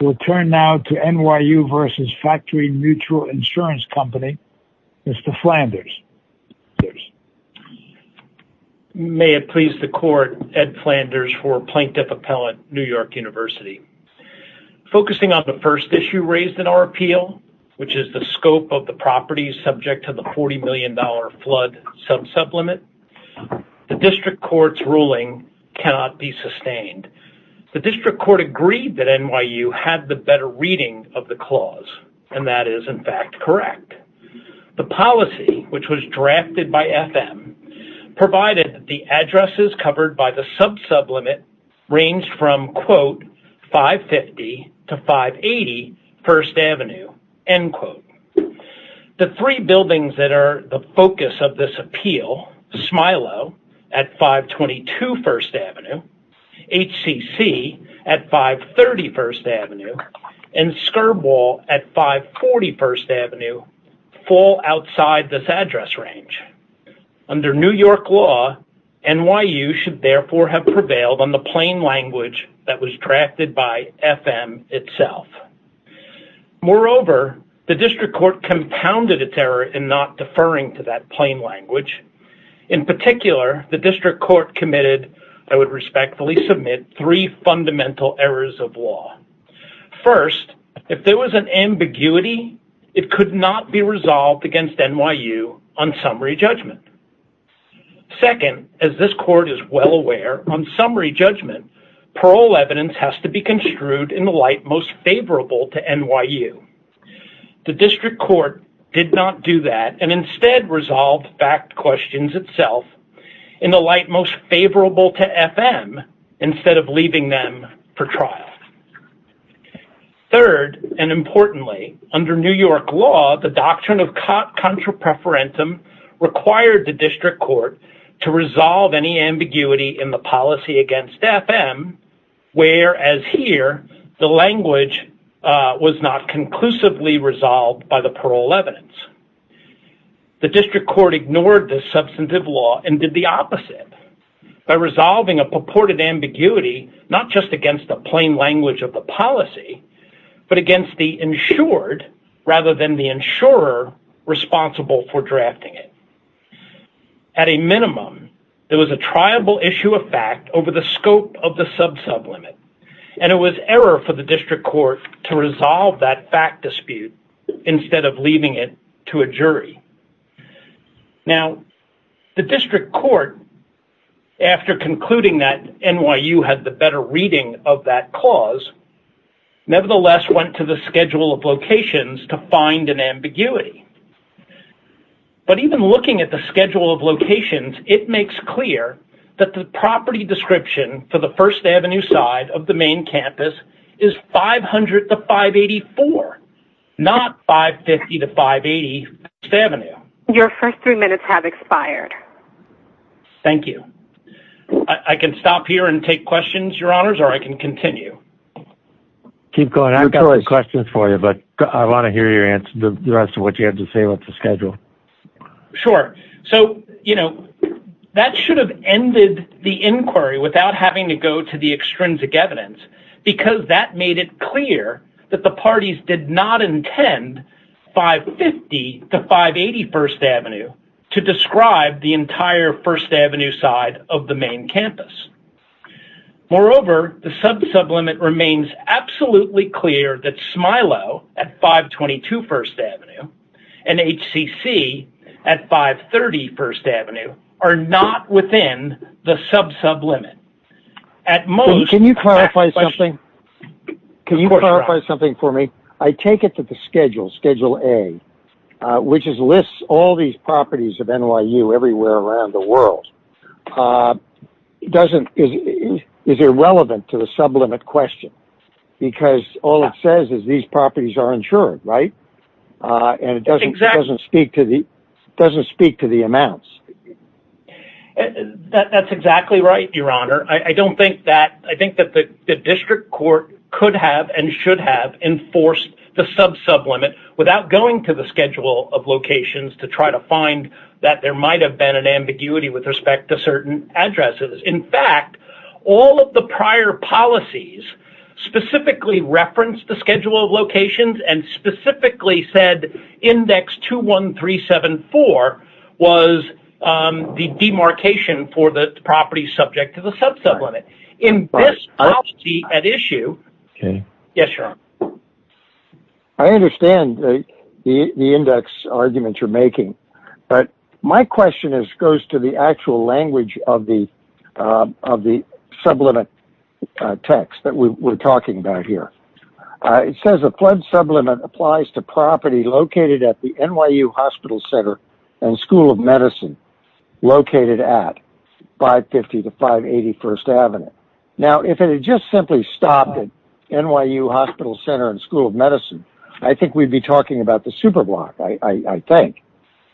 We'll turn now to NYU v. Factory Mutual Insurance Company, Mr. Flanders. May it please the court, Ed Flanders for Plaintiff Appellant, New York University. Focusing on the first issue raised in our appeal, which is the scope of the properties subject to the $40 million flood sub-sublimit, the District Court's ruling cannot be sustained. The District Court agreed that NYU had the better reading of the clause, and that is, in fact, correct. The policy, which was drafted by FM, provided that the addresses covered by the sub-sublimit ranged from, quote, 550 to 580 First Avenue, end quote. The three buildings that are the focus of this appeal, Smilow at 522 First Avenue, HCC at 530 First Avenue, and Skirball at 540 First Avenue, fall outside this address range. Under New York law, NYU should therefore have prevailed on the plain language that was drafted by FM itself. Moreover, the District Court compounded its error in not deferring to that plain language. In particular, the District Court committed, I would respectfully submit, three fundamental errors of law. First, if there was an ambiguity, it could not be resolved against NYU on summary judgment. Second, as this court is well aware, on summary judgment, parole evidence has to be construed in the light most favorable to NYU. The District Court did not do that, and instead resolved fact questions itself in the light most favorable to FM, instead of leaving them for trial. Third, and importantly, under New York law, the doctrine of contra preferentum required the District Court to resolve any ambiguity in the policy against FM, whereas here, the language was not conclusively resolved by the parole evidence. The District Court ignored this substantive law and did the opposite by resolving a purported ambiguity, not just against the plain language of the policy, but against the insured rather than the insurer responsible for drafting it. At a minimum, there was a triable issue of fact over the scope of the sub-sublimit, and it was error for the District Court to resolve that fact dispute instead of leaving it to a jury. Now, the District Court, after concluding that NYU had the better reading of that clause, nevertheless went to the schedule of locations to find an ambiguity. But even looking at the schedule of locations, it makes clear that the property description for the First Avenue side of the main campus is 500 to 584, not 550 to 580 First Avenue. Your first three minutes have expired. Thank you. I can stop here and take questions, Your Honors, or I can continue. Keep going. I've got some questions for you, but I want to hear your answer, the rest of what you had to say about the schedule. Sure. So, you know, that should have ended the inquiry without having to go to the extrinsic evidence because that made it clear that the parties did not intend 550 to 580 First Avenue to describe the entire First Avenue side of the main campus. Moreover, the and HCC at 530 First Avenue are not within the sub-sub limit at most. Can you clarify something? Can you clarify something for me? I take it that the schedule, Schedule A, which lists all these properties of NYU everywhere around the world, doesn't, is irrelevant to the sublimit question because all it says is these properties are insured, right? And it doesn't speak to the amounts. That's exactly right, Your Honor. I don't think that, I think that the district court could have and should have enforced the sub-sub limit without going to the schedule of locations to try to find that there might have been an ambiguity with respect to certain addresses. In fact, all of the prior policies specifically referenced the schedule of locations and specifically said index 21374 was the demarcation for the property subject to the sub-sub limit. In this policy at issue, yes, Your Honor. I understand the index arguments you're making, but my question goes to the actual language of the sublimit text that we're talking about here. It says a flood sublimit applies to property located at the NYU Hospital Center and School of Medicine, located at 550 to 581st Avenue. Now, if it had just simply stopped at NYU Hospital Center and School of Medicine, I think we'd be talking about the super block, I think.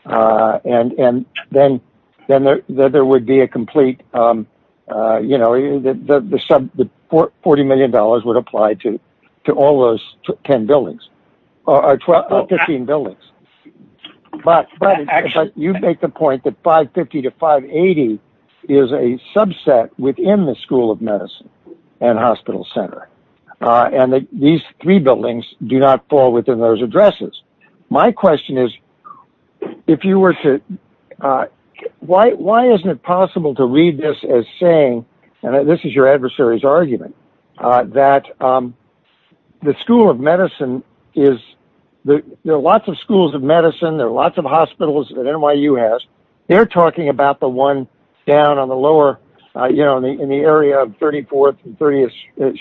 And then there would be a complete, you know, the sub, the $40 million would apply to all those 10 buildings or 15 buildings. But you make the point that 550 to 580 is a subset within the School of Medicine and Hospital Center. And these three buildings do not fall within those addresses. My question is, if you possible to read this as saying, and this is your adversary's argument, that the School of Medicine is, there are lots of schools of medicine, there are lots of hospitals that NYU has. They're talking about the one down on the lower, you know, in the area of 34th and 30th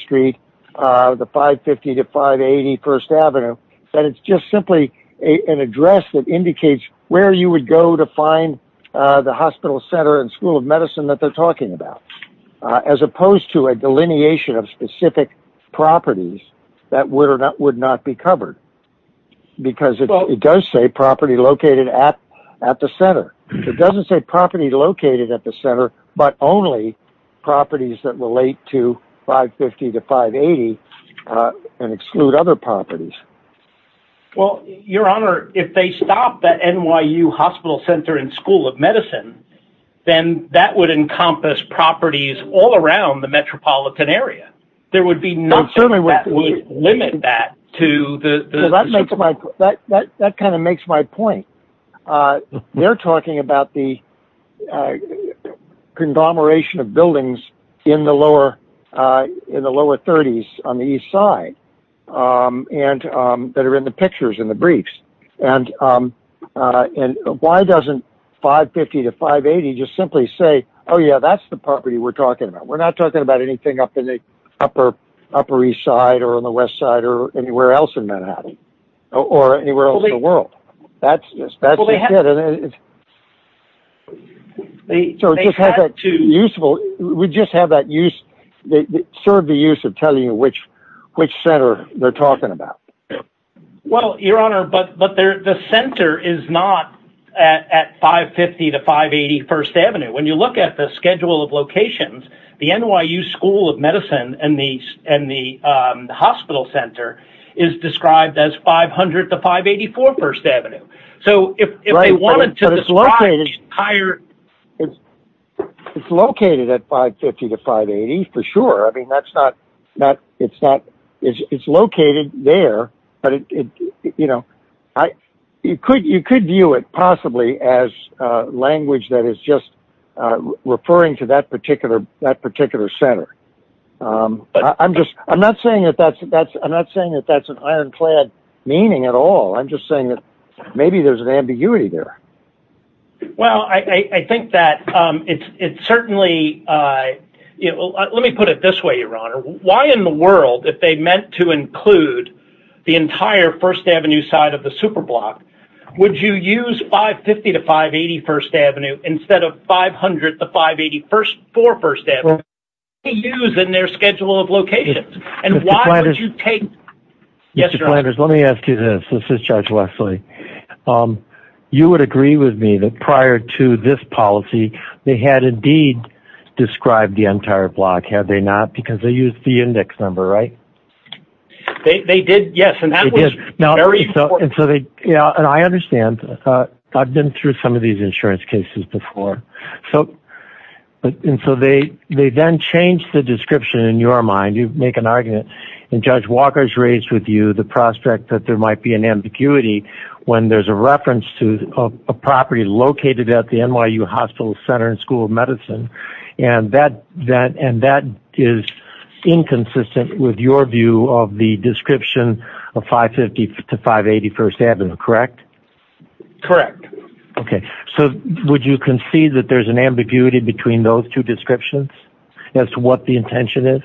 Street, the 550 to 580 1st Avenue, that it's just simply an address that indicates where you would go to school of medicine that they're talking about, as opposed to a delineation of specific properties that would or that would not be covered. Because it does say property located at at the center. It doesn't say property located at the center, but only properties that relate to 550 to 580 and exclude other properties. Well, Your Honor, if they stop at NYU Hospital Center and School of Medicine, then that would encompass properties all around the metropolitan area. There would be no certainly limit that to the... That kind of makes my point. They're talking about the conglomeration of buildings in the lower 30s on the east side and that are in the pictures in the briefs. And why doesn't 550 to 580 just simply say, oh yeah, that's the property we're talking about. We're not talking about anything up in the upper east side or on the west side or anywhere else in Manhattan or anywhere else in the world. That's just it. We just have that use, serve the use of telling you which center they're talking about. Well, Your Honor, but the center is not at 550 to 580 First Avenue. When you look at the schedule of locations, the NYU School of Medicine and the hospital center is described as 500 to 584 First Avenue. So if they wanted to... It's located at 550 to 580 for sure. I mean, that's not... It's located there, but you could view it possibly as a language that is just referring to that particular center. I'm not saying that that's an ironclad meaning at all. I'm just saying that maybe there's an ambiguity there. Well, I think that it's certainly... Let me put it this way, Your Honor. Why in the world, if they meant to include the entire First Avenue side of the superblock, would you use 550 to 580 First Avenue instead of 500 to 584 First Avenue? What do they use in their schedule of locations? And why would you take... Yes, Your Honor. Mr. Flanders, let me ask you this. This is Judge Wesley. You would agree with me that prior to this policy, they had indeed described the entire block, had they not? Because they used the index number, right? They did, yes. And that was very... And so they... And I understand. I've been through some of these insurance cases before. So... And so they then changed the description in your mind. You make an argument. And Judge Walker's raised with you the prospect that there might be an ambiguity when there's a reference to a property located at the NYU Hospital Center and School of Medicine. And that is inconsistent with your view of the description of 550 to 581st Avenue, correct? Correct. Okay. So would you concede that there's an ambiguity between those two descriptions as to what the intention is?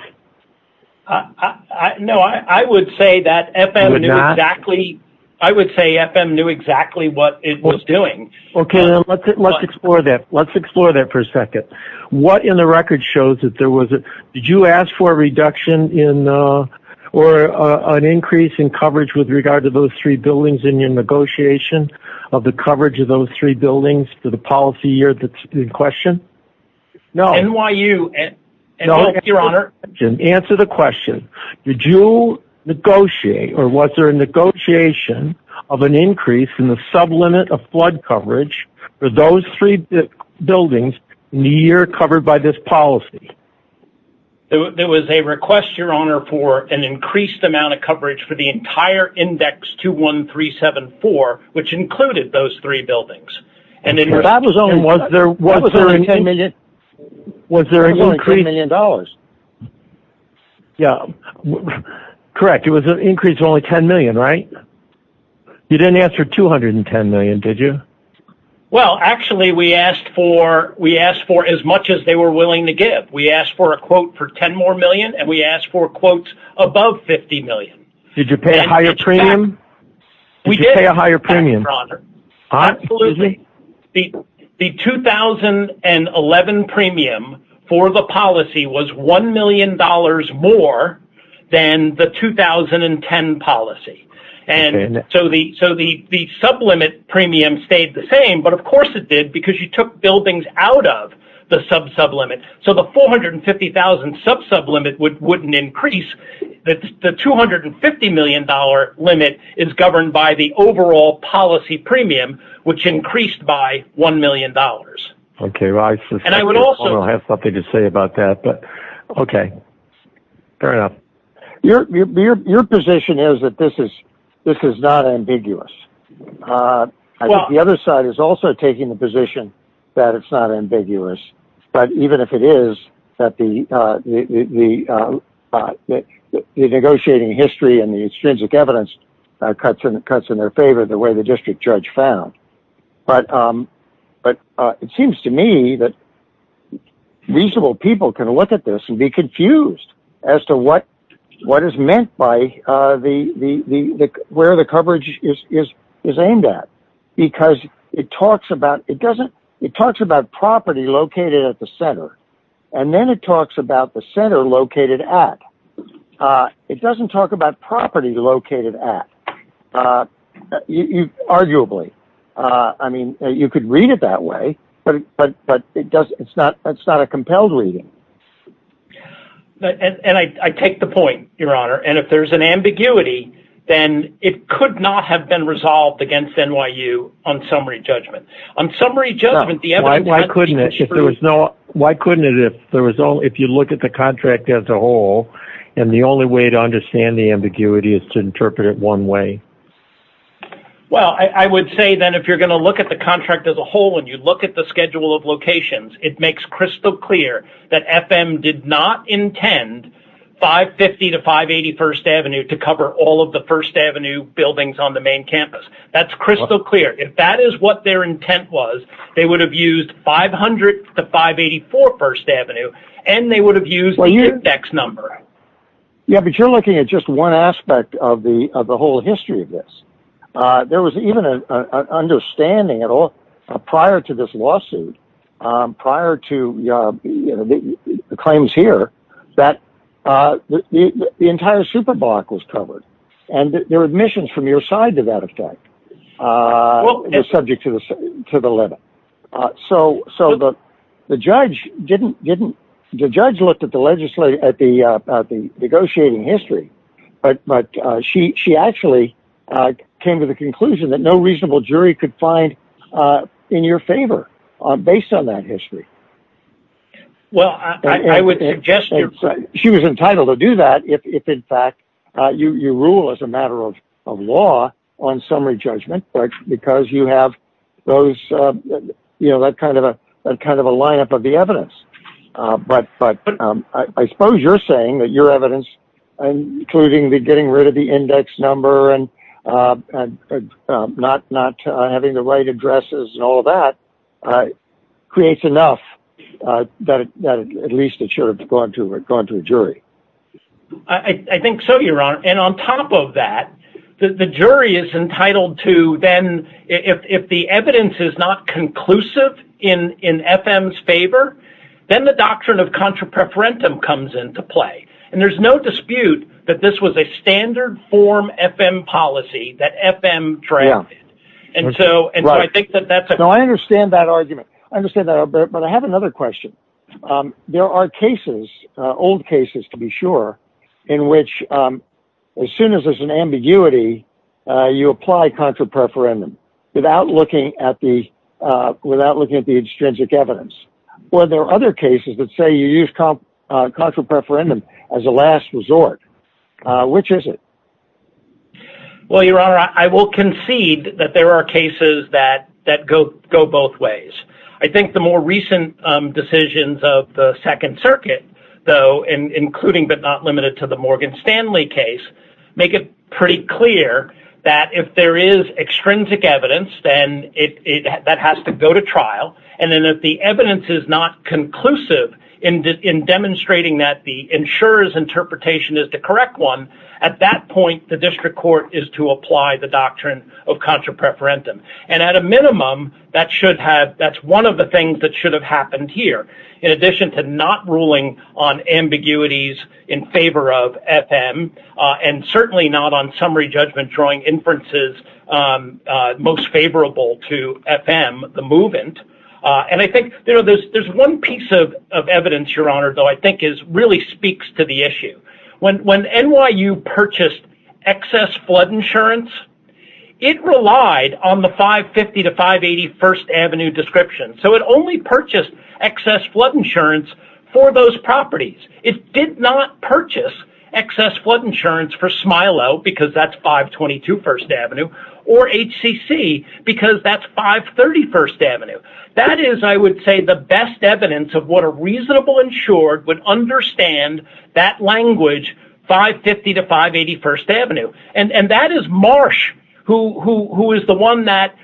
No, I would say that FM knew exactly... You would not? I would say FM knew exactly what it was doing. Okay. Let's explore that. Let's explore that for a second. What in the record shows that there was a... Did you ask for a reduction or an increase in coverage with regard to those three buildings in your negotiation of the coverage of those three buildings for the policy year that's in question? No. NYU and... No. Your Honor. Answer the question. Did you negotiate or was there a negotiation of an increase in the sublimit of flood coverage for those three buildings in the year covered by this policy? There was a request, Your Honor, for an increased amount of coverage for the entire index 21374, which included those three buildings. And in your... That was only... Was there an increase... Was there an increase... Was there an increase of $10 million? Yeah. Correct. It was an increase of only $10 million, right? You didn't answer $210 million, did you? Well, actually, we asked for as much as they were willing to give. We asked for a quote above $50 million. Did you pay a higher premium? We did. Did you pay a higher premium? Absolutely. The 2011 premium for the policy was $1 million more than the 2010 policy. And so the sublimit premium stayed the same, but of course it did because you took buildings out of the sub-sublimit. So the $450,000 sub-sublimit wouldn't increase that. The $250 million limit is governed by the overall policy premium, which increased by $1 million. Okay. And I would also have something to say about that, but okay. Fair enough. Your position is that this is not ambiguous. The other side is also taking the position that it's not ambiguous. But even if it is, the negotiating history and the extrinsic evidence cuts in their favor the way the district judge found. But it seems to me that reasonable people can look at this and be confused as to what is meant by where the coverage is aimed at, because it talks about property located at the center, and then it talks about the center located at. It doesn't talk about property located at, arguably. I mean, you could read it that way, but it's not a compelled reading. And I take the point, Your Honor. And if there's an ambiguity, then it could not have been resolved against NYU on summary judgment. On summary judgment, the evidence... Why couldn't it? If there was no... Why couldn't it, if you look at the contract as a whole, and the only way to understand the ambiguity is to interpret it one way? Well, I would say then, if you're going to look at the contract as a whole, and you look at the schedule of locations, it makes crystal clear that FM did not intend 550 to 581st Avenue to all of the First Avenue buildings on the main campus. That's crystal clear. If that is what their intent was, they would have used 500 to 584 First Avenue, and they would have used the index number. Yeah, but you're looking at just one aspect of the whole history of this. There was even an understanding at all prior to this lawsuit, prior to the claims here, that the entire superblock was covered. And there were admissions from your side to that effect, subject to the limit. So the judge looked at the negotiating history, but she actually came to the conclusion that no reasonable jury could find in your favor based on that history. And she was entitled to do that if, in fact, you rule as a matter of law on summary judgment, because you have that kind of a lineup of the evidence. But I suppose you're saying that your evidence, including the getting rid of the index number and not having the right addresses and all that, creates enough that at least it should have gone to a jury. I think so, your honor. And on top of that, the jury is entitled to then, if the evidence is not conclusive in FM's favor, then the doctrine of contra preferentum comes into play. And there's no dispute that this was a standard form FM policy that FM drafted. And so I think that that's a... No, I understand that argument. I understand that, but I have another question. There are cases, old cases to be sure, in which as soon as there's an ambiguity, you apply contra preferentum without looking at the extrinsic evidence. Or there are other cases that say you use contra preferentum as a last resort. Which is it? Well, your honor, I will concede that there are cases that go both ways. I think the more recent decisions of the Second Circuit, though, including but not limited to the Morgan Stanley case, make it pretty clear that if there is extrinsic evidence, then that has to go to trial. And then if the evidence is not conclusive in demonstrating that the insurer's interpretation is the correct one, at that point, the district court is to apply the doctrine of contra preferentum. And at a minimum, that's one of the things that should have happened here, in addition to not ruling on ambiguities in favor of FM, and certainly not on summary judgment drawing inferences most favorable to FM, the movant. And I think there's one piece of evidence, your honor, though, I think really speaks to the issue. When NYU purchased excess flood insurance, it relied on the 550 to 580 First Avenue description. So it only purchased excess flood insurance for those properties. It did not purchase excess flood insurance for Smilow, because that's 522 First Avenue, or HCC, because that's 530 First Avenue. That is, I would say, the best evidence of what a reasonable insured would understand that language, 550 to 581st Avenue. And that is Marsh, who is the one that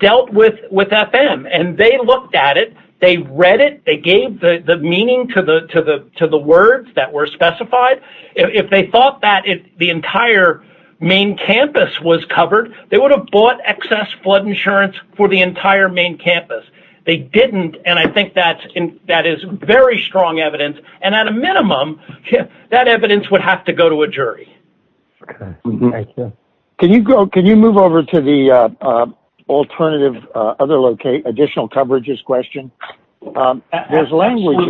dealt with FM. And they looked at it, they read it, they gave the meaning to the words that were specified. If they thought that the entire main campus was covered, they would have bought excess flood insurance for the entire main campus. They didn't. And I think that is very strong evidence. And at a minimum, that evidence would have to go to a jury. Okay. Thank you. Can you move over to the alternative, additional coverages question? There's language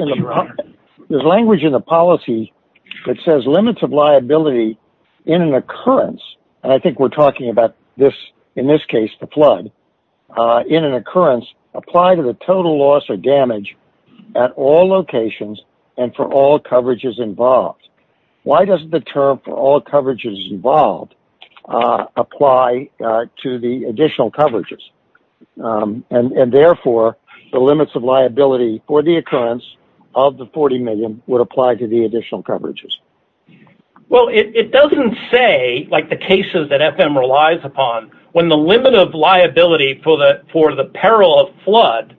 in the policy that says limits of liability in an occurrence, and I think we're talking about this, in this case, the flood, in an occurrence, apply to the total loss or damage at all locations and for all coverages involved. Why does the term for all coverages involved apply to the additional coverages? And therefore, the limits of liability for the occurrence of the 40 million would apply to the additional coverages. Well, it doesn't say, like the cases that FM relies upon, when the limit of for the peril of flood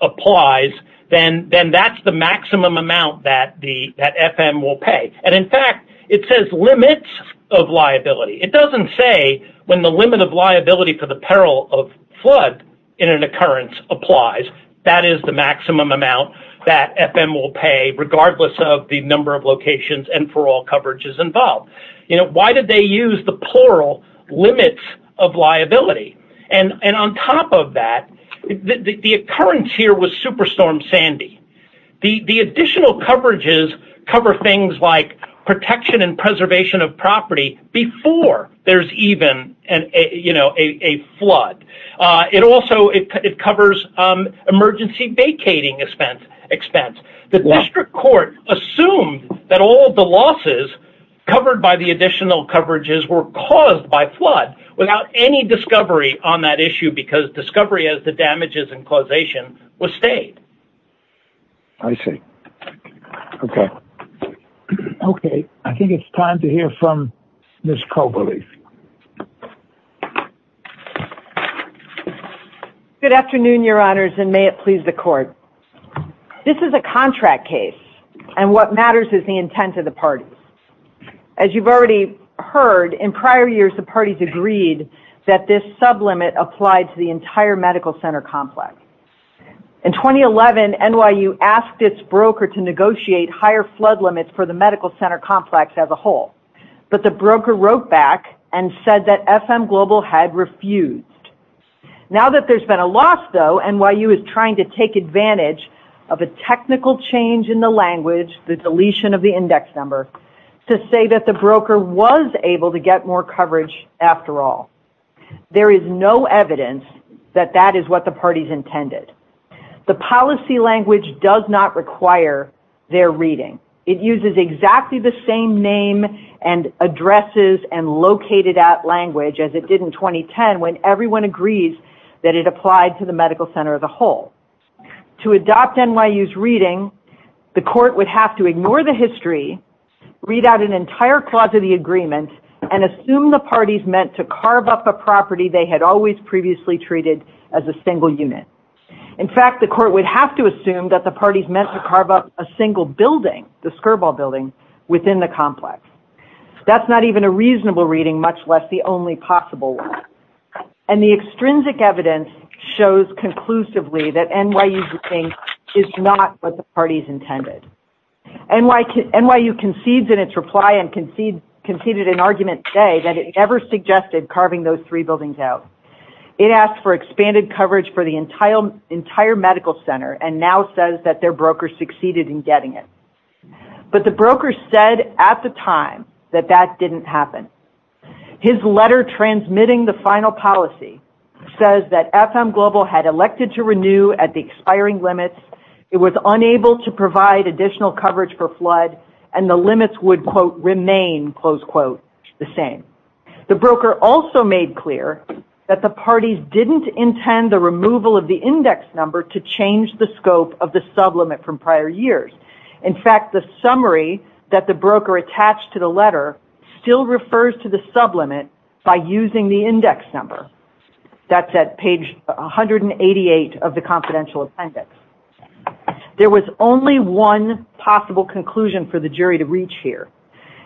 applies, then that's the maximum amount that FM will pay. And in fact, it says limits of liability. It doesn't say when the limit of liability for the peril of flood in an occurrence applies, that is the maximum amount that FM will pay regardless of the number of locations and for all coverages involved. You know, why did they use the plural limits of liability? And on top of that, the occurrence here was Superstorm Sandy. The additional coverages cover things like protection and preservation of property before there's even a flood. It also, it covers emergency vacating expense. The district court assumed that all the losses covered by the additional coverages were caused by flood without any discovery on that issue because discovery of the damages and causation was stayed. I see. Okay. Okay. I think it's time to hear from Ms. Koberly. Good afternoon, your honors, and may it please the court. This is a contract case, and what matters is the intent of the parties. As you've already heard, in prior years, the parties agreed that this sublimit applied to the entire medical center complex. In 2011, NYU asked its broker to negotiate higher flood limits for the medical center complex as a whole, but the broker wrote back and said that FM Global had refused. Now that there's been a loss, though, NYU is trying to take advantage of a technical change in the language, the deletion of the index number, to say that the broker was able to get more coverage after all. There is no evidence that that is what the parties intended. The policy language does not require their reading. It uses exactly the same name and addresses and located at language as it did in 2010 when everyone agrees that it applied to the medical center as a whole. To adopt NYU's reading, the court would have to ignore the history, read out an entire clause of the agreement, and assume the parties meant to carve up a property they had always previously treated as a single unit. In fact, the court would have to assume that the parties meant to carve up a single building, the Skirball building, within the only possible one. And the extrinsic evidence shows conclusively that NYU's reading is not what the parties intended. NYU concedes in its reply and conceded an argument today that it never suggested carving those three buildings out. It asked for expanded coverage for the entire medical center and now says that their broker succeeded in getting it. But the broker said at the time that that didn't happen. His letter transmitting the final policy says that FM Global had elected to renew at the expiring limits. It was unable to provide additional coverage for flood and the limits would, quote, remain, close quote, the same. The broker also made clear that the parties didn't intend the removal of the index number to change the scope of the sublimit from to the letter still refers to the sublimit by using the index number. That's at page 188 of the confidential appendix. There was only one possible conclusion for the jury to reach here.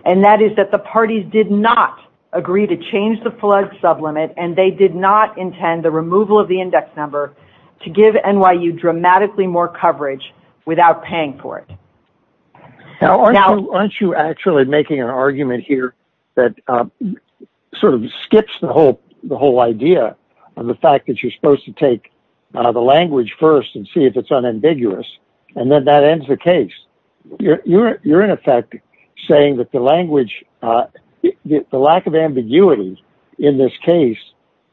And that is that the parties did not agree to change the flood sublimit and they did not intend the removal of the index number to give NYU dramatically more coverage without paying for it. Now, aren't you actually making an argument here that sort of skips the whole the whole idea of the fact that you're supposed to take the language first and see if it's unambiguous and then that ends the case. You're in effect saying that the language, the lack of ambiguity in this case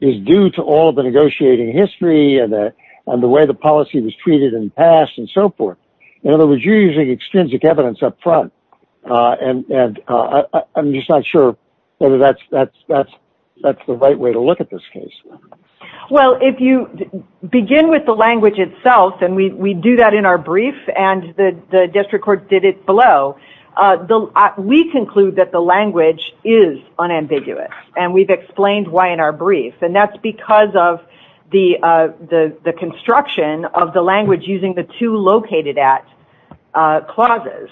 is due to all the negotiating history and the way the policy was treated in the past and so forth. In other words, you're using extrinsic evidence up front. And I'm just not sure whether that's the right way to look at this case. Well, if you begin with the language itself, and we do that in our brief and the district court did it below, we conclude that the language is unambiguous and we've explained why in our brief. And that's because of the construction of the language using the two located at clauses.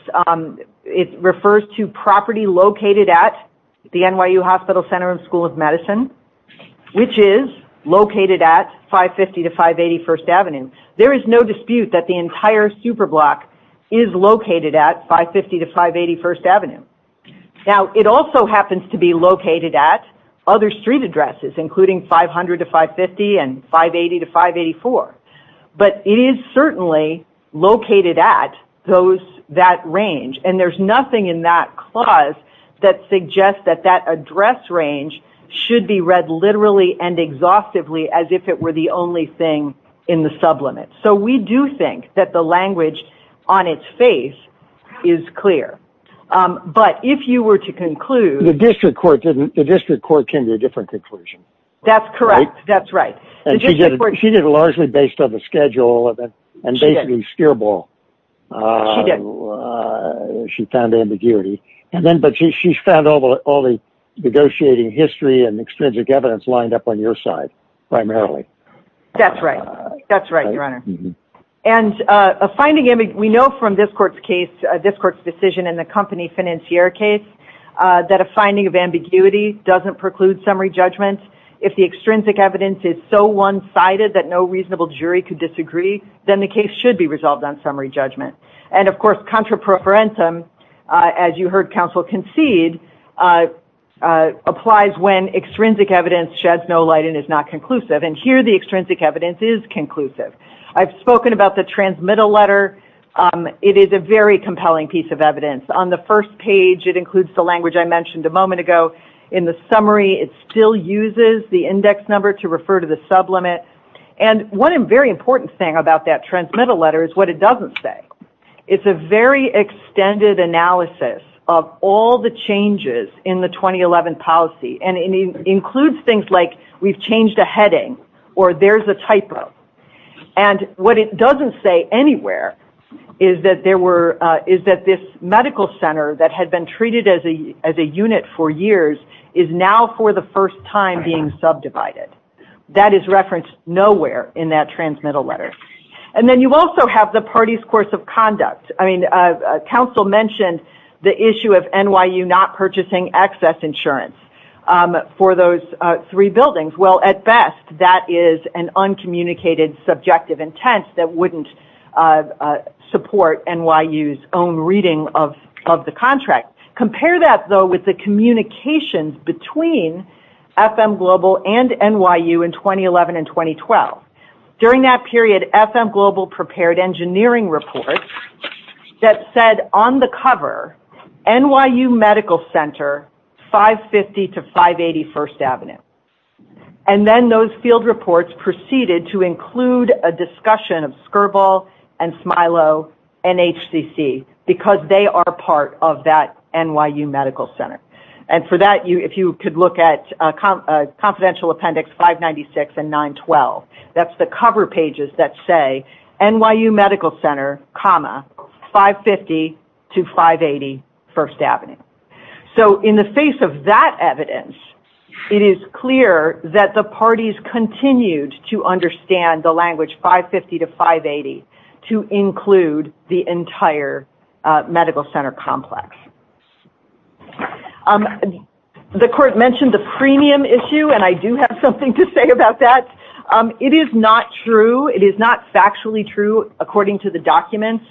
It refers to property located at the NYU Hospital Center and School of Medicine, which is located at 550 to 581st Avenue. There is no dispute that the entire superblock is located at 550 to 581st Avenue. Now, it also happens to be located at other street addresses, including 500 to 550 and 580 to 584. But it is certainly located at those, that range, and there's nothing in that clause that suggests that that address range should be read literally and exhaustively as if it were the only thing in the sublimits. So we do think that the language on its face is clear. But if you were to conclude... The district court didn't, the district That's correct. That's right. And she did it largely based on the schedule and basically steerball. She did. She found ambiguity. And then, but she found all the negotiating history and extrinsic evidence lined up on your side, primarily. That's right. That's right, Your Honor. And a finding, we know from this court's case, this court's decision in the company financier case, that a finding of ambiguity doesn't preclude summary judgment. If the extrinsic evidence is so one-sided that no reasonable jury could disagree, then the case should be resolved on summary judgment. And of course, contra preferentum, as you heard counsel concede, applies when extrinsic evidence sheds no light and is not conclusive. And here, the extrinsic evidence is conclusive. I've spoken about the transmittal letter. It is a very compelling piece of evidence. On the first page, it includes the language I mentioned a moment ago. In the summary, it still uses the index number to refer to the sublimit. And one very important thing about that transmittal letter is what it doesn't say. It's a very extended analysis of all the changes in the 2011 policy. And it includes things like, we've changed a heading, or there's a typo. And what it doesn't say anywhere is that this medical center that had been treated as a unit for years is now for the first time being subdivided. That is referenced nowhere in that transmittal letter. And then you also have the party's course of conduct. I mean, counsel mentioned the issue of NYU not purchasing excess insurance for those three buildings. Well, at best, that is an uncommunicated subjective intent that wouldn't support NYU's own reading of the contract. Compare that, though, with the communications between FM Global and NYU in 2011 and 2012. During that period, FM Global prepared engineering reports that said on the cover, NYU Medical Center 550 to 580 First Avenue. And then those field reports proceeded to include a discussion of Skirball and Smilo and HCC because they are part of that NYU Medical Center. And for that, if you could look at confidential appendix 596 and 912, that's the 550 to 580 First Avenue. So in the face of that evidence, it is clear that the parties continued to understand the language 550 to 580 to include the entire medical center complex. The court mentioned the premium issue, and I do have something to say about that. It is not true. It is not factually true, according to the documents,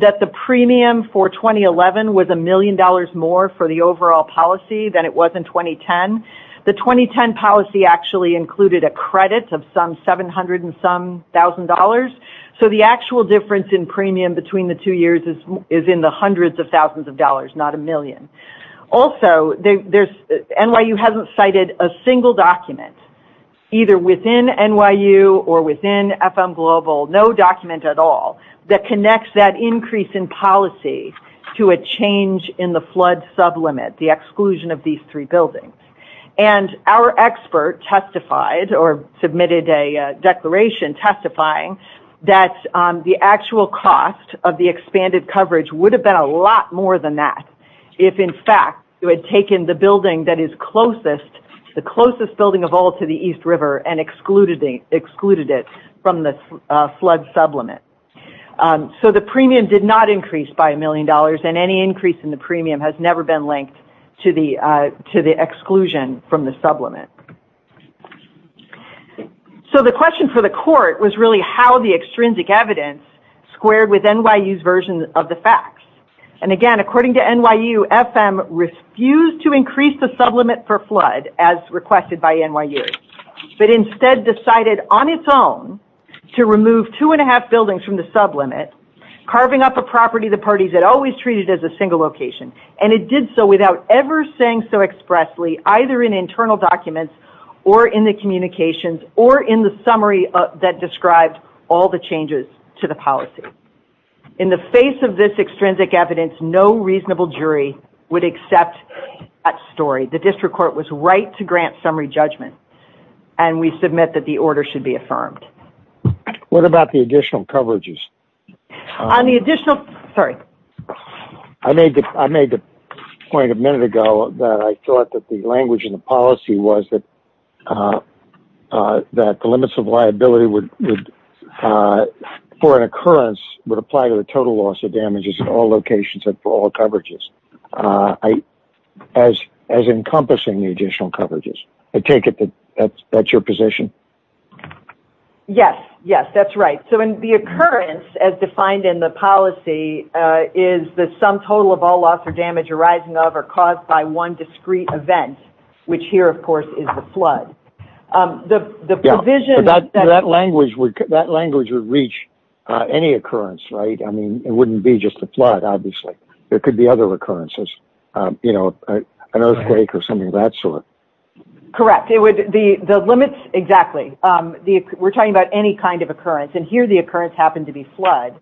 that the premium for 2011 was a million dollars more for the overall policy than it was in 2010. The 2010 policy actually included a credit of some 700 and some thousand dollars. So the actual difference in premium between the two years is in the hundreds of thousands of dollars, not a million. Also, NYU hasn't cited a single document, either within NYU or within FM Global, no document at all, that connects that increase in policy to a change in the flood sublimit, the exclusion of these three buildings. And our expert testified or submitted a declaration testifying that the actual cost of the expanded coverage would have been a lot more than that if, in fact, you had taken the building that is closest, the closest building of all to the East River, and excluded it from the flood sublimit. So the premium did not increase by a million dollars, and any increase in the premium has never been linked to the exclusion from the sublimit. So the question for the court was really how the extrinsic evidence squared with NYU's version of the facts. And again, according to NYU, FM refused to increase the sublimit for flood, as requested by NYU, but instead decided on its own to remove two and a half buildings from the sublimit, carving up a property the parties had always treated as a single location. And it did so without ever saying so expressly, either in internal documents, or in the communications, or in the summary that described all the changes to the policy. In the face of this extrinsic evidence, no reasonable jury would accept that story. The district court was right to grant summary judgment, and we submit that the order should be affirmed. What about the additional point a minute ago that I thought that the language in the policy was that the limits of liability would, for an occurrence, would apply to the total loss of damages in all locations and for all coverages, as encompassing the additional coverages? I take it that's your position? Yes, yes, that's right. So in the occurrence, as defined in the policy, is the total of all loss or damage arising of or caused by one discrete event, which here, of course, is the flood. That language would reach any occurrence, right? I mean, it wouldn't be just a flood, obviously. There could be other occurrences, you know, an earthquake or something of that sort. Correct. The limits, exactly. We're talking about any kind of occurrence, and here the occurrence happened to be flood,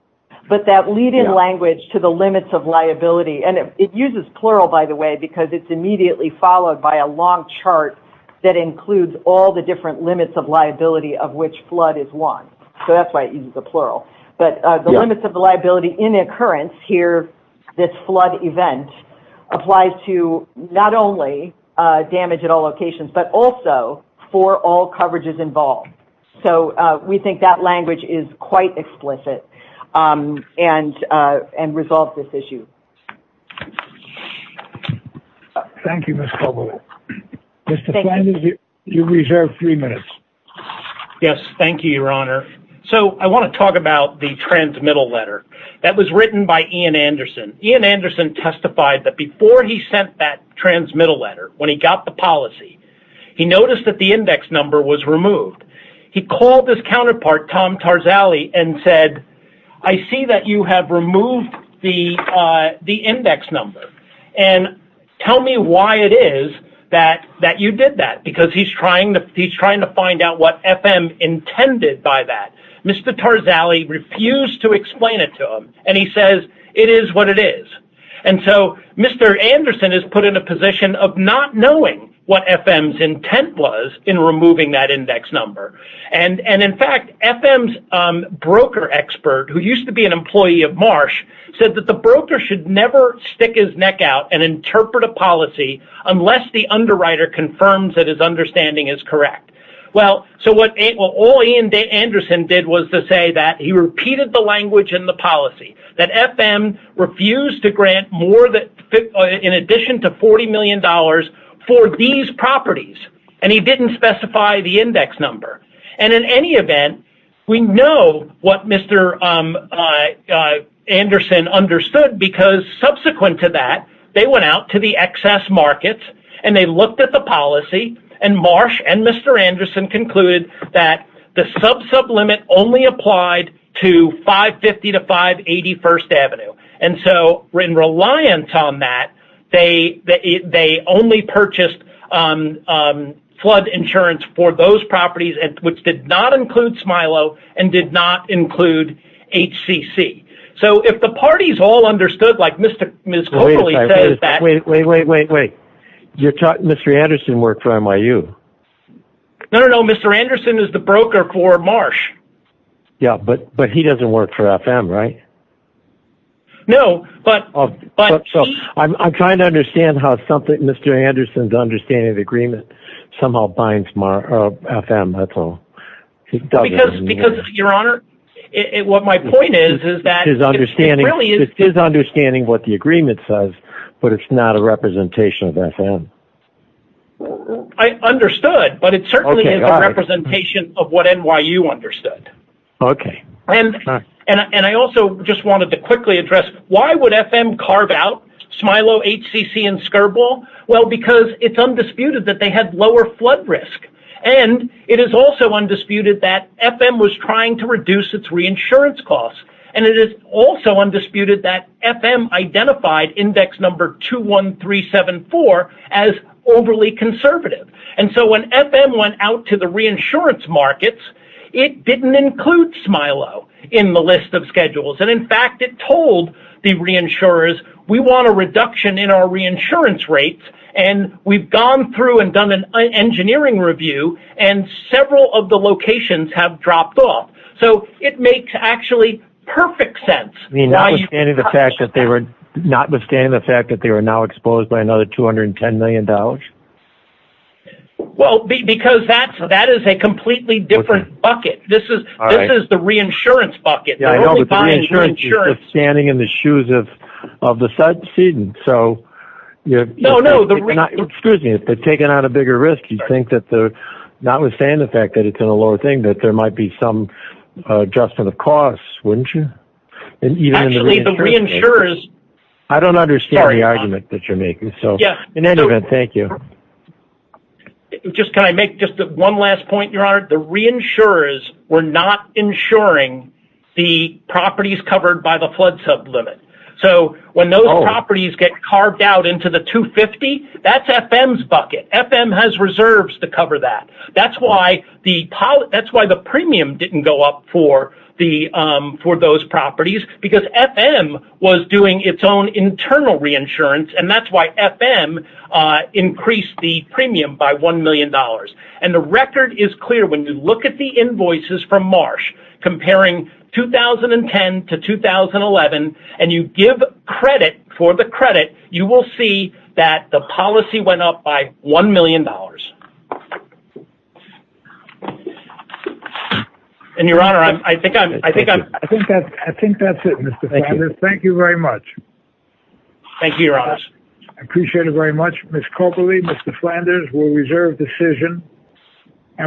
but that lead in language to the limits of liability, and it uses plural, by the way, because it's immediately followed by a long chart that includes all the different limits of liability of which flood is one. So that's why it uses the plural. But the limits of the liability in occurrence here, this flood event, applies to not only damage at all locations, but also for all coverages involved. So we think that language is quite explicit and resolves this issue. Thank you, Ms. Coble. Mr. Flanders, you reserve three minutes. Yes, thank you, Your Honor. So I want to talk about the transmittal letter that was written by Ian Anderson. Ian Anderson testified that before he sent that transmittal letter, when he got the policy, he noticed that the index number was removed. He called his counterpart, Tom Tarzali, and said, I see that you have removed the index number, and tell me why it is that you did that, because he's trying to find out what FM intended by that. Mr. Tarzali refused to explain it to him, and he says it is what it is. And so Mr. Anderson is put in a position of not knowing what FM's intent was in removing that index number. And in fact, FM's broker expert, who used to be an employee of Marsh, said that the broker should never stick his neck out and interpret a policy unless the underwriter confirms that his understanding is correct. Well, so what all Ian Anderson did was to say that he repeated the language in the policy, that FM refused to grant more in addition to $40 million for these properties, and he didn't specify the index number. And in any event, we know what Mr. Anderson understood, because subsequent to that, they went out to the excess markets, and they looked at the policy, and Marsh and Mr. Anderson concluded that the sub-sub limit only applied to 550 to 581st Avenue. And so in reliance on that, they only purchased flood insurance for those properties, which did not include Smilo, and did not include HCC. So if the parties all understood, like No, no, no, Mr. Anderson is the broker for Marsh. Yeah, but he doesn't work for FM, right? No, but... I'm trying to understand how something, Mr. Anderson's understanding of the agreement somehow binds FM, that's all. Because, Your Honor, what my point is, is that... His understanding, he's understanding what the agreement says, but it's not a representation of FM. I understood, but it certainly is a representation of what NYU understood. Okay. And I also just wanted to quickly address, why would FM carve out Smilo, HCC, and Skirball? Well, because it's undisputed that they had lower flood risk. And it is also undisputed that FM was trying to reduce its reinsurance costs. And it is also undisputed that FM identified index number 21374 as overly conservative. And so when FM went out to the reinsurance markets, it didn't include Smilo in the list of schedules. And in fact, it told the reinsurers, we want a reduction in our reinsurance rates. And we've gone through and done an engineering review, and several of the locations have dropped off. So it makes actually perfect sense. Notwithstanding the fact that they were now exposed by another $210 million? Well, because that is a completely different bucket. This is the reinsurance bucket. Yeah, I know, but the reinsurance is just standing in the shoes of the subsedent. So... No, no, the... Excuse me, if they're taking on a bigger risk, you'd think that the... Notwithstanding the fact that it's in a lower thing, that there might be some adjustment of costs, wouldn't you? Actually, the reinsurers... I don't understand the argument that you're making. So in any event, thank you. Can I make just one last point, Your Honor? The reinsurers were not insuring the properties covered by the flood sub limit. So when those properties get carved out into the 250, that's FM's bucket. FM has reserves to cover that. That's why the premium didn't go up for those properties, because FM was doing its own internal reinsurance, and that's why FM increased the premium by $1 million. And the record is clear. When you look at the invoices from Marsh, comparing 2010 to 2011, and you give credit for the credit, you will see that the policy went up by $1 million. And, Your Honor, I think I'm... I think that's it, Mr. Flanders. Thank you very much. Thank you, Your Honor. I appreciate it very much. Ms. Copley, Mr. Flanders, we'll reserve decision.